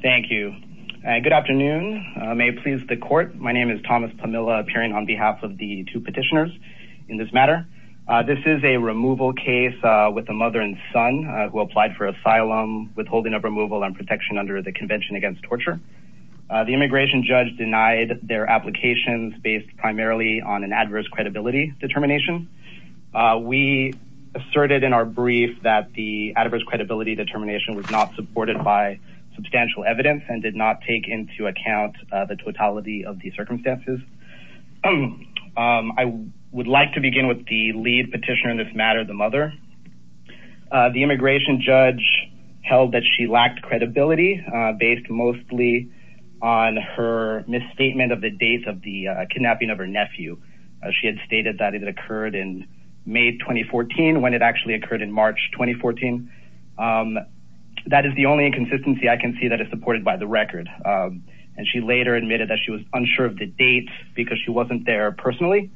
Thank you. Good afternoon. May it please the court. My name is Thomas Pamela appearing on behalf of the two petitioners in this matter. This is a removal case with a mother and son who applied for asylum withholding of removal and protection under the Convention Against Torture. The immigration judge denied their applications based primarily on an adverse credibility determination. We asserted in our brief that the adverse credibility determination was not supported by substantial evidence and did not take into account the totality of the circumstances. I would like to begin with the lead petitioner in this matter, the mother. The immigration judge held that she lacked credibility based mostly on her misstatement of the date of the kidnapping of her nephew. She had stated that it occurred in May 2014 when it actually occurred in March 2014. That is the only inconsistency I can see that is supported by the record and she later admitted that she was unsure of the date because she wasn't there personally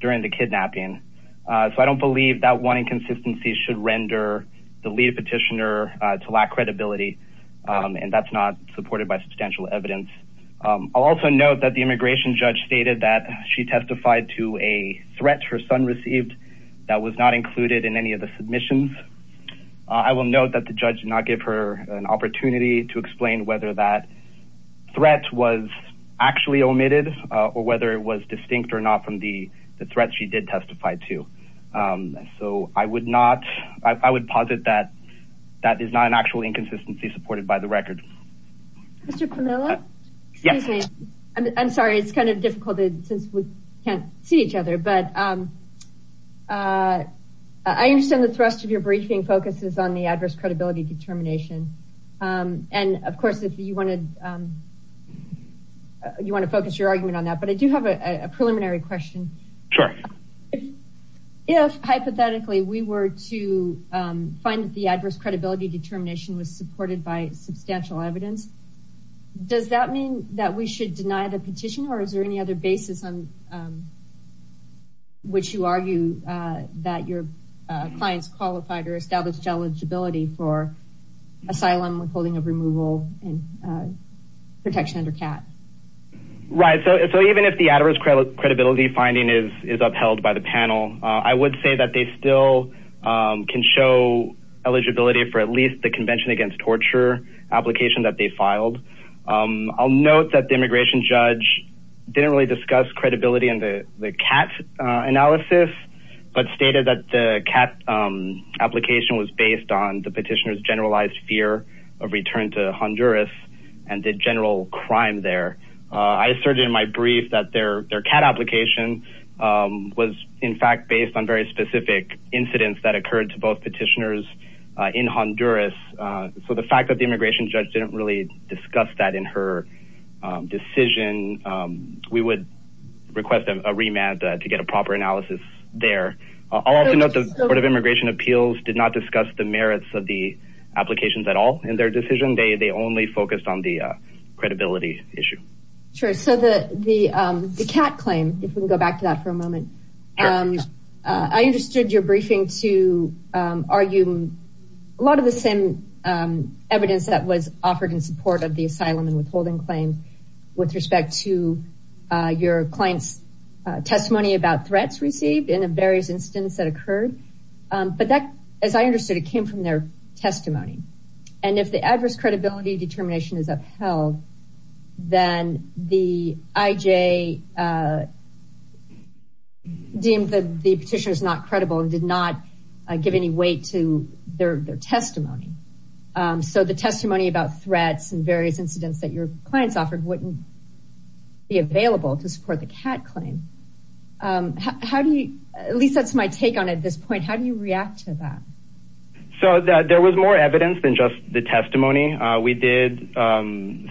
during the kidnapping. So I don't believe that one inconsistency should render the lead petitioner to lack credibility and that's not supported by substantial evidence. I'll also note that the immigration judge stated that she testified to a threat her son received that was not included in any of the submissions. I will note that the judge did not give her an opportunity to explain whether that threat was actually omitted or whether it was distinct or not from the threats she did testify to. So I would not, I would posit that that is not an actual inconsistency supported by the record. Mr. Pamela? Yes. I'm sorry it's kind of since we can't see each other but I understand the thrust of your briefing focuses on the adverse credibility determination and of course if you want to focus your argument on that but I do have a preliminary question. Sure. If hypothetically we were to find that the adverse credibility determination was supported by substantial evidence does that mean that we should deny the petition or is there any other basis on which you argue that your client's qualified or established eligibility for asylum withholding of removal and protection under CAT? Right so even if the adverse credibility finding is upheld by the panel I would say that they still can show eligibility for at least the convention against torture application that they filed. I'll note that the immigration judge didn't really discuss credibility in the CAT analysis but stated that the CAT application was based on the petitioner's generalized fear of return to Honduras and the general crime there. I asserted in my brief that their CAT application was in fact based on very specific incidents that occurred to both petitioners in Honduras so the fact that immigration judge didn't really discuss that in her decision we would request a remand to get a proper analysis there. I'll also note the Board of Immigration Appeals did not discuss the merits of the applications at all in their decision. They only focused on the credibility issue. Sure so the CAT claim, if we can go back to that for a moment, I understood your briefing to argue a lot of the same evidence that was offered in support of the asylum and withholding claim with respect to your client's testimony about threats received in a various instance that occurred but that as I understood it came from their testimony and if the adverse credibility determination is upheld then the IJ deemed that the petitioner is not credible and did not give any weight to their testimony. So the testimony about threats and various incidents that your clients offered wouldn't be available to support the CAT claim. How do you, at least that's my take on it at this point, how do you react to that? So there was more evidence than just the testimony. We did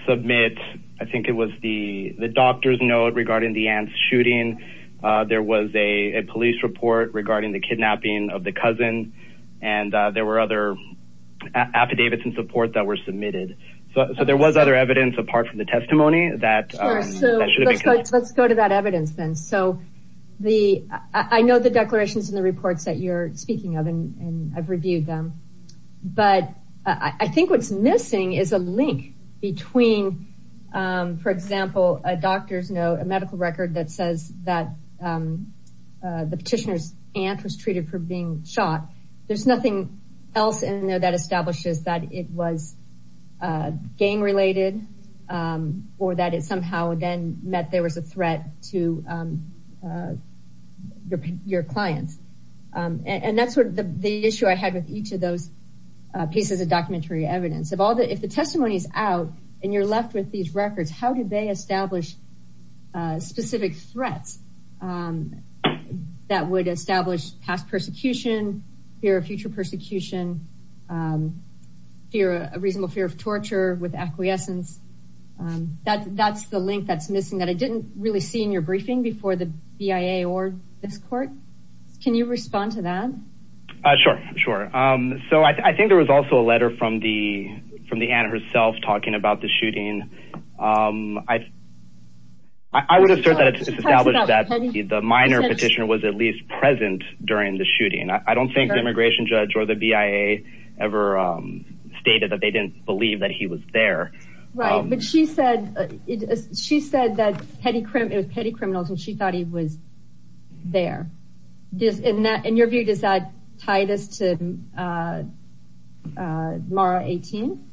submit I think it was the doctor's note regarding the ants shooting. There was a police report regarding the kidnapping of the cousin and there were other affidavits in support that were submitted. So there was other evidence apart from the testimony that let's go to that evidence then. So I know the declarations in the reports that you're speaking of and I've reviewed them but I think what's missing is a link between for example a doctor's note, a medical record that says that the petitioner's aunt was treated for being shot. There's nothing else in there that establishes that it was gang related or that it somehow then meant there was a threat to your clients and that's sort of the issue I had with each of those pieces of documentary evidence. If the testimony is out and you're left with these records, how did they establish specific threats that would establish past persecution, fear of future persecution, a reasonable fear of torture with acquiescence. That's the link that's missing that I didn't really see in your briefing before the BIA or this court. Can you respond to that? Sure, sure. So I think there was also a letter from the aunt herself talking about the shooting. I would assert that the minor petitioner was at least present during the shooting. I don't think the immigration judge or the BIA ever stated that they didn't believe that he was there. Right, but she said that it was petty criminals and she thought he was there. In your view, does that tie this to Mara 18?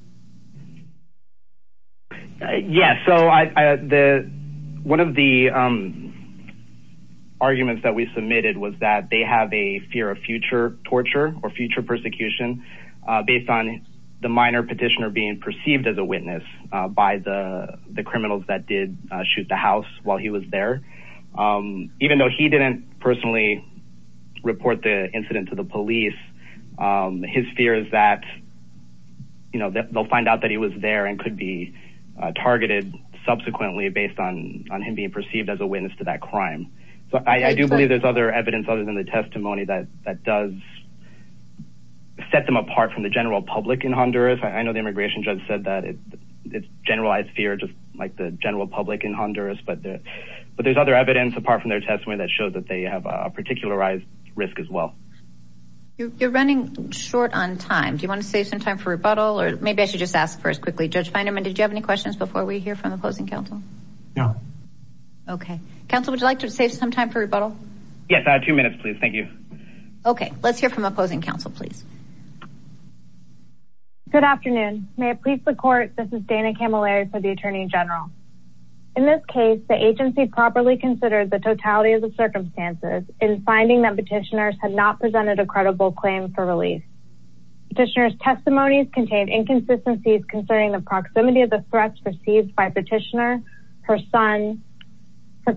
Yes, so one of the arguments that we submitted was that they have a fear of future torture or future persecution based on the minor petitioner being perceived as a witness by the criminals that did shoot the house while he was there. Even though he didn't personally report the incident to the police, his fear is that they'll find out that he was there and could be targeted subsequently based on him being perceived as a witness to that crime. So I do believe there's other evidence other than the testimony that does set them apart from the general public in Honduras. I know the immigration judge said that it's generalized fear just like the general public in Honduras, but there's other evidence apart from their testimony that shows that they have a particularized risk as well. You're running short on time. Do you want to save some time for rebuttal or maybe I should just ask first quickly, Judge Feinerman, did you have any questions before we hear from opposing counsel? No. Okay. Counsel, would you like to save some time for rebuttal? Yes, two minutes please. Thank you. Okay, let's hear from opposing counsel please. Good afternoon. May it please the court, this is Dana Camilleri for the attorney general. In this case, the agency properly considered the totality of the circumstances in finding that petitioners had not presented a credible claim for release. Petitioner's testimonies contained inconsistencies concerning the proximity of the threats perceived by petitioner, her son, her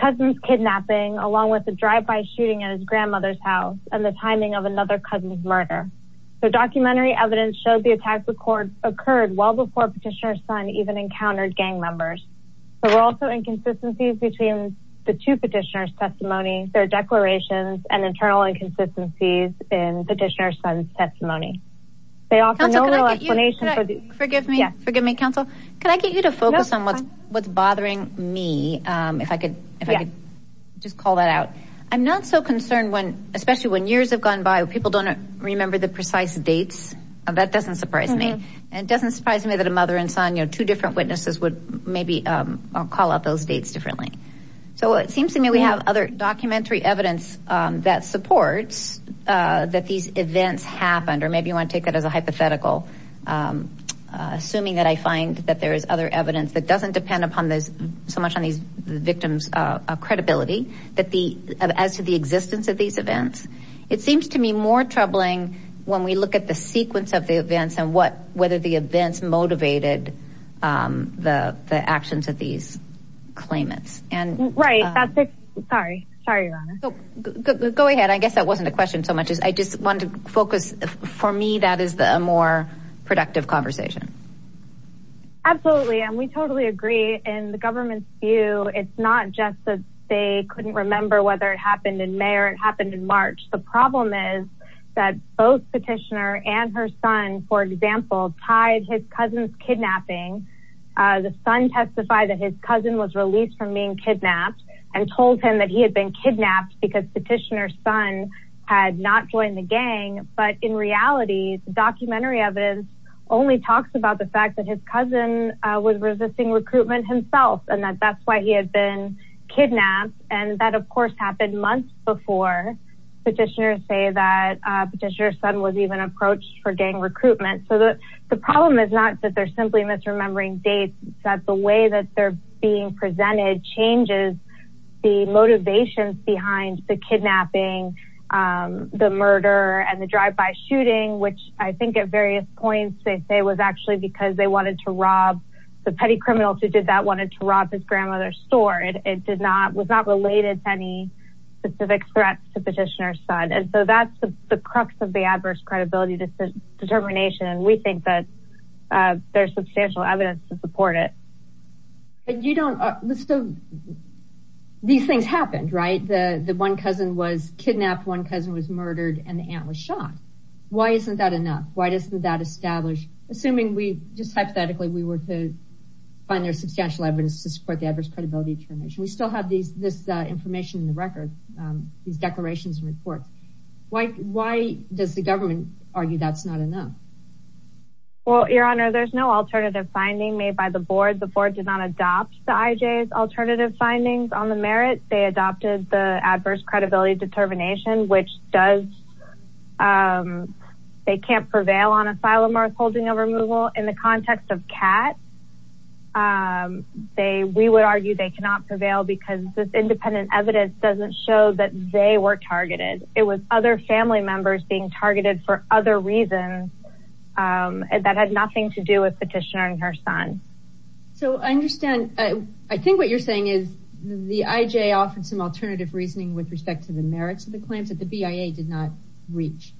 cousin's kidnapping, along with the drive-by shooting at his grandmother's house, and the timing of another cousin's murder. The documentary evidence showed the attacks occurred well before petitioner's son even encountered gang members. There were also inconsistencies between the two petitioner's testimony, their declarations, and internal inconsistencies in petitioner's son's testimony. They offer no real explanation for the- Forgive me, counsel. Can I get you to focus on what's bothering me, if I could just call that I'm not so concerned when, especially when years have gone by, people don't remember the precise dates. That doesn't surprise me. And it doesn't surprise me that a mother and son, you know, two different witnesses would maybe call out those dates differently. So it seems to me we have other documentary evidence that supports that these events happened, or maybe you want to take that as a hypothetical, assuming that I find that there is other evidence that doesn't depend upon so much on these victims' credibility as to the existence of these events. It seems to me more troubling when we look at the sequence of the events and whether the events motivated the actions of these claimants. Right, that's it. Sorry. Sorry, Your Honor. Go ahead. I guess that wasn't a question so much as I just wanted to focus. For me, that is a more productive conversation. Absolutely. And we totally agree. In the government's view, it's not just that they couldn't remember whether it happened in May or it happened in March. The problem is that both Petitioner and her son, for example, tied his cousin's kidnapping. The son testified that his cousin was released from being kidnapped and told him that he had been kidnapped because Petitioner's son had not joined the gang. But in reality, the documentary evidence only talks about the fact that his cousin was resisting recruitment himself and that that's why he had been kidnapped. And that, of course, happened months before Petitioner said that Petitioner's son was even approached for gang recruitment. So the problem is not that they're simply misremembering dates, that the way that they're being presented changes the motivations behind the kidnapping, the murder, and the drive-by shooting, which I think at various points they say was actually because the petty criminals who did that wanted to rob his grandmother's store. It was not related to any specific threats to Petitioner's son. And so that's the crux of the adverse credibility determination. And we think that there's substantial evidence to support it. But you don't, these things happened, right? The one cousin was kidnapped, one cousin was murdered, and the aunt was shot. Why isn't that enough? Why doesn't that establish, assuming we just hypothetically, we were to find there's substantial evidence to support the adverse credibility determination. We still have this information in the record, these declarations and reports. Why does the government argue that's not enough? Well, Your Honor, there's no alternative finding made by the board. The board did not adopt the IJ's alternative findings on the merit. They adopted the adverse credibility determination, which does, they can't prevail on asylum or holding of removal. In the context of Kat, we would argue they cannot prevail because this independent evidence doesn't show that they were targeted. It was other family members being her son. So I understand, I think what you're saying is the IJ offered some alternative reasoning with respect to the merits of the claims that the BIA did not reach.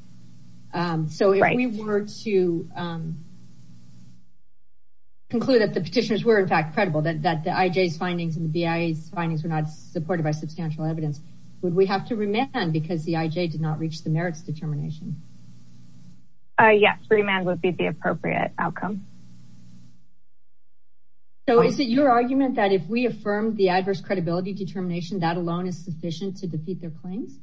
So if we were to conclude that the Petitioners were in fact credible, that the IJ's findings and the BIA's findings were not supported by substantial evidence, would we have to remand because the IJ did not reach the merits determination? Yes, remand would be the appropriate outcome. So is it your argument that if we affirm the adverse credibility determination, that alone is sufficient to defeat their claims?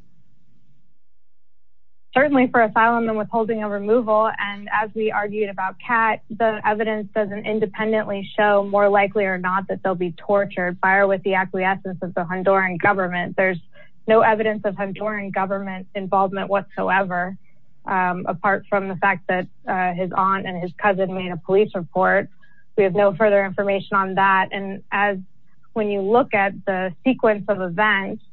Certainly for asylum and withholding of removal. And as we argued about Kat, the evidence doesn't independently show more likely or not that they'll be tortured by or with the acquiescence of the Honduran government. There's no evidence of Honduran government involvement whatsoever, apart from the fact that his aunt and his cousin made a report. We have no further information on that. And as when you look at the sequence of events,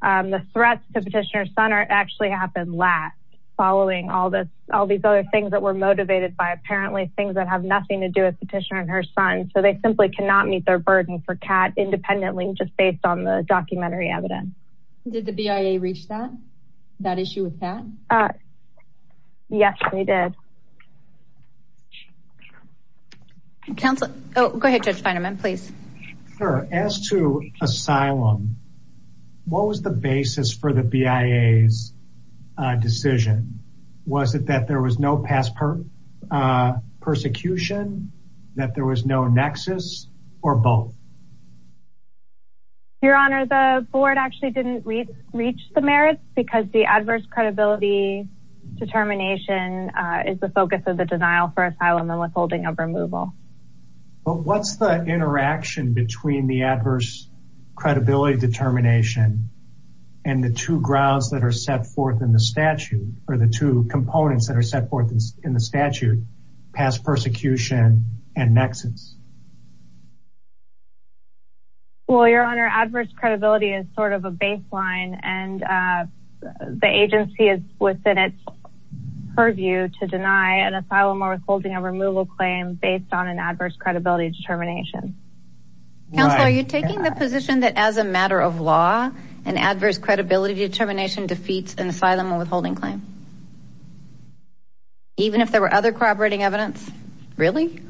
the threats to Petitioner's son actually happened last, following all these other things that were motivated by apparently things that have nothing to do with Petitioner and her son. So they simply cannot meet their burden for Kat independently, just based on the documentary evidence. Did the BIA reach that issue with Kat? Yes, they did. Counsel, oh, go ahead, Judge Fineman, please. As to asylum, what was the basis for the BIA's decision? Was it that there was no past persecution, that there was no nexus, or both? Your Honor, the board actually didn't reach the merits because the adverse credibility determination is the focus of the denial for asylum and withholding of removal. But what's the interaction between the adverse credibility determination and the two grounds that are set forth in the statute, or the two components that are set forth in the statute, past persecution and nexus? Well, Your Honor, adverse credibility is sort of a baseline, and the agency is within its purview to deny an asylum or withholding of removal claim based on an adverse credibility determination. Counsel, are you taking the position that as a matter of law, an adverse credibility determination defeats an asylum or withholding claim? Even if there were other corroborating evidence? Really?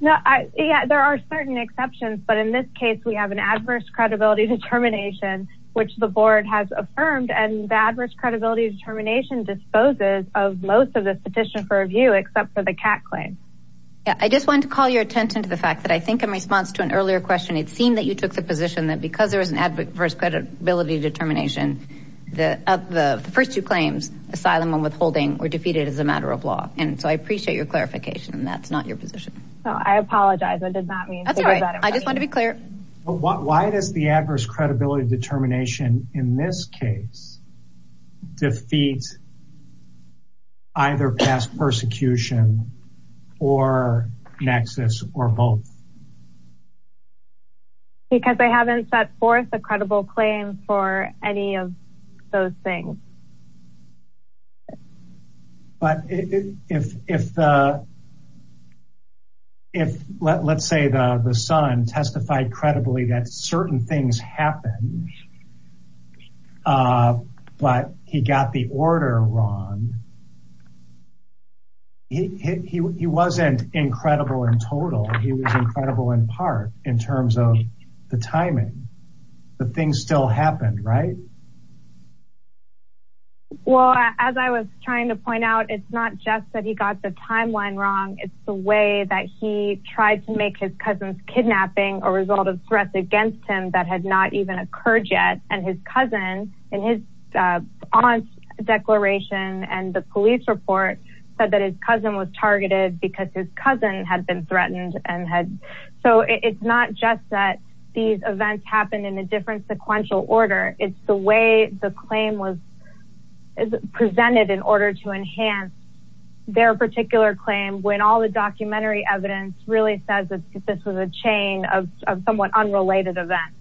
No, yeah, there are certain exceptions, but in this case, we have an adverse credibility determination, which the board has affirmed, and the adverse credibility determination disposes of most of the petition for review, except for the CAC claim. Yeah, I just wanted to call your attention to the fact that I think in response to an earlier question, it seemed that you took the position that because there was an adverse credibility determination, the first two claims, asylum and withholding, were defeated as a matter of law. And so I appreciate your clarification, and that's not your position. No, I apologize. I did not mean to. That's all right. I just wanted to be clear. Why does the adverse credibility determination in this case defeat either past persecution or nexus or both? Because they haven't set forth a credible claim for any of those things. But if, let's say, the son testified credibly that certain things happened, but he got the order wrong, he wasn't incredible in total. He was incredible in part, in terms of the timing. The thing still happened, right? Well, as I was trying to point out, it's not just that he got the timeline wrong. It's the way that he tried to make his cousin's kidnapping a result of threats against him that had not even occurred yet. And his cousin, in his aunt's declaration and the police report, said that his cousin was targeted because his cousin had been threatened. So it's not just that these events happened in a different sequential order. It's the way the claim was presented in order to enhance their particular claim, when all the documentary evidence really says that this was a chain of somewhat unrelated events.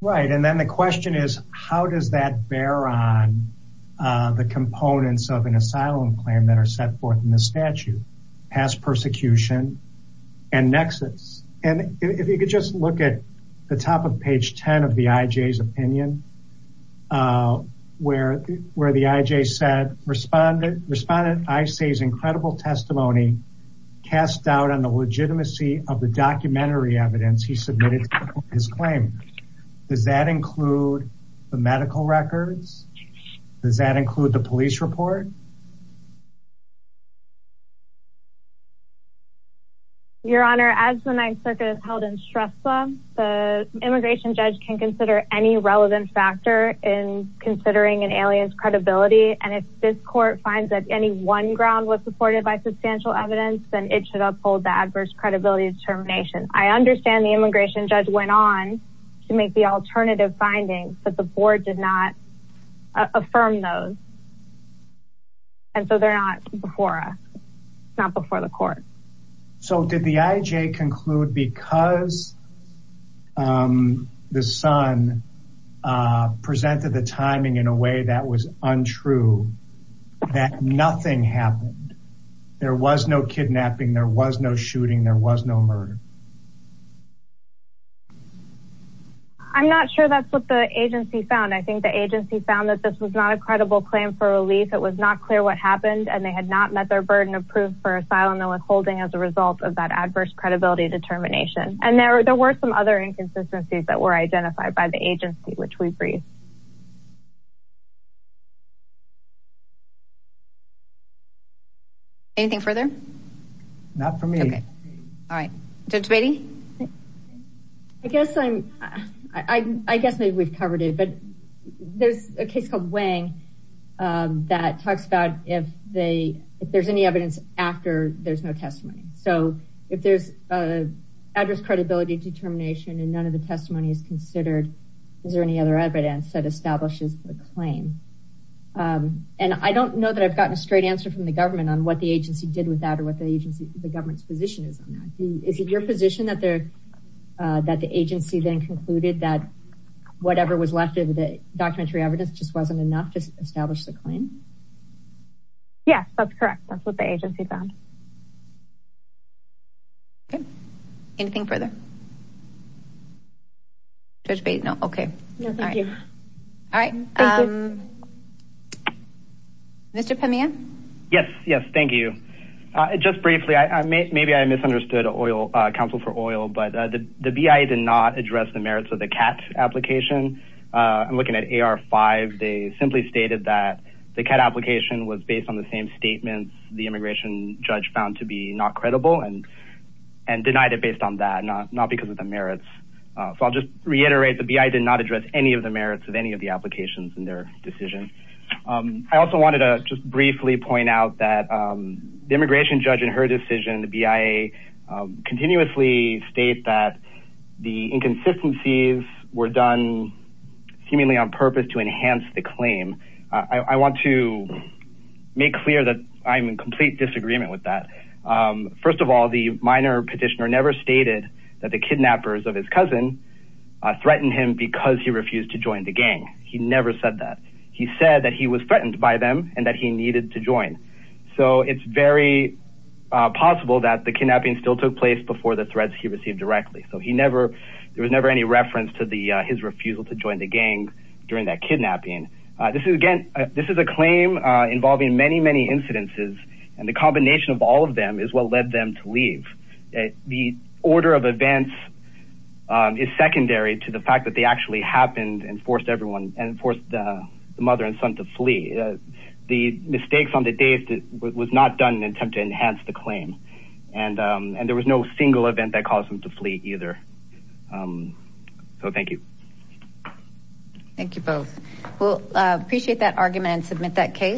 Right. And then the question is, how does that bear on the components of an asylum claim that are set forth in the statute, past persecution and nexus? And if you could just look at the top page 10 of the IJ's opinion, where the IJ said, Respondent Isay's incredible testimony cast doubt on the legitimacy of the documentary evidence he submitted to his claim. Does that include the medical records? Does that include the police report? Your Honor, as the Ninth Circuit has held in Shrestha, the immigration judge can consider any relevant factor in considering an alien's credibility. And if this court finds that any one ground was supported by substantial evidence, then it should uphold the adverse credibility determination. I understand the immigration judge went on to make the alternative findings, but the board did not affirm those. And so they're not before us, not before the court. So did the IJ conclude because the son presented the timing in a way that was untrue, that nothing happened? There was no kidnapping, there was no shooting, there was no murder. I'm not sure that's what the agency found. I think the agency found that this was not a credible claim for relief. It was not clear what happened, and they had not met their burden of proof for asylum and withholding as a result of that adverse credibility determination. And there were some other inconsistencies that were identified by the agency, which we briefed. Anything further? Not for me. All right. Judge Beatty? I guess maybe we've covered it, but there's a case called Wang that talks about if there's any evidence after there's no testimony. So if there's adverse credibility determination and none of the testimony is considered, is there any other evidence that establishes a claim? And I don't know that I've gotten a straight answer from the government on what the agency did with that or what the government's position is on that. Is it your position that the agency then concluded that whatever was left of the documentary evidence just wasn't enough to establish the claim? Yes, that's correct. That's what the agency found. Okay. Anything further? Judge Beatty? No? Okay. All right. Mr. Pamir? Yes. Yes. Thank you. Just briefly, maybe I misunderstood counsel for oil, but the BI did not address the merits of the CAT application. I'm looking at AR5. They simply stated that the CAT application was based on the same statements the immigration judge found to be not credible and denied it based on that, not because of the merits. So I'll just reiterate, the BI did not address any of the merits of any of the applications in their decision. I also wanted to just briefly point out that the immigration judge in her decision, the BIA, continuously state that the inconsistencies were done seemingly on purpose to enhance the claim. I want to make clear that I'm in complete disagreement with that. First of all, the minor petitioner never stated that the kidnappers of his cousin threatened him because he refused to join the gang. He never said that. He said that he was threatened by them and that he needed to join. So it's very possible that the kidnapping still took place before the threats he received directly. So he never, there was never any reference to his refusal to join the gang during that kidnapping. This is again, this is a claim involving many, many incidences, and the combination of all of them is what led them to leave. The order of events is secondary to the fact that they actually happened and forced everyone and forced the mother and son to flee. The mistakes on the day was not done in an attempt to enhance the claim. And there was no single event that caused them to flee either. So thank you. Thank you both. Well, appreciate that argument and submit that case.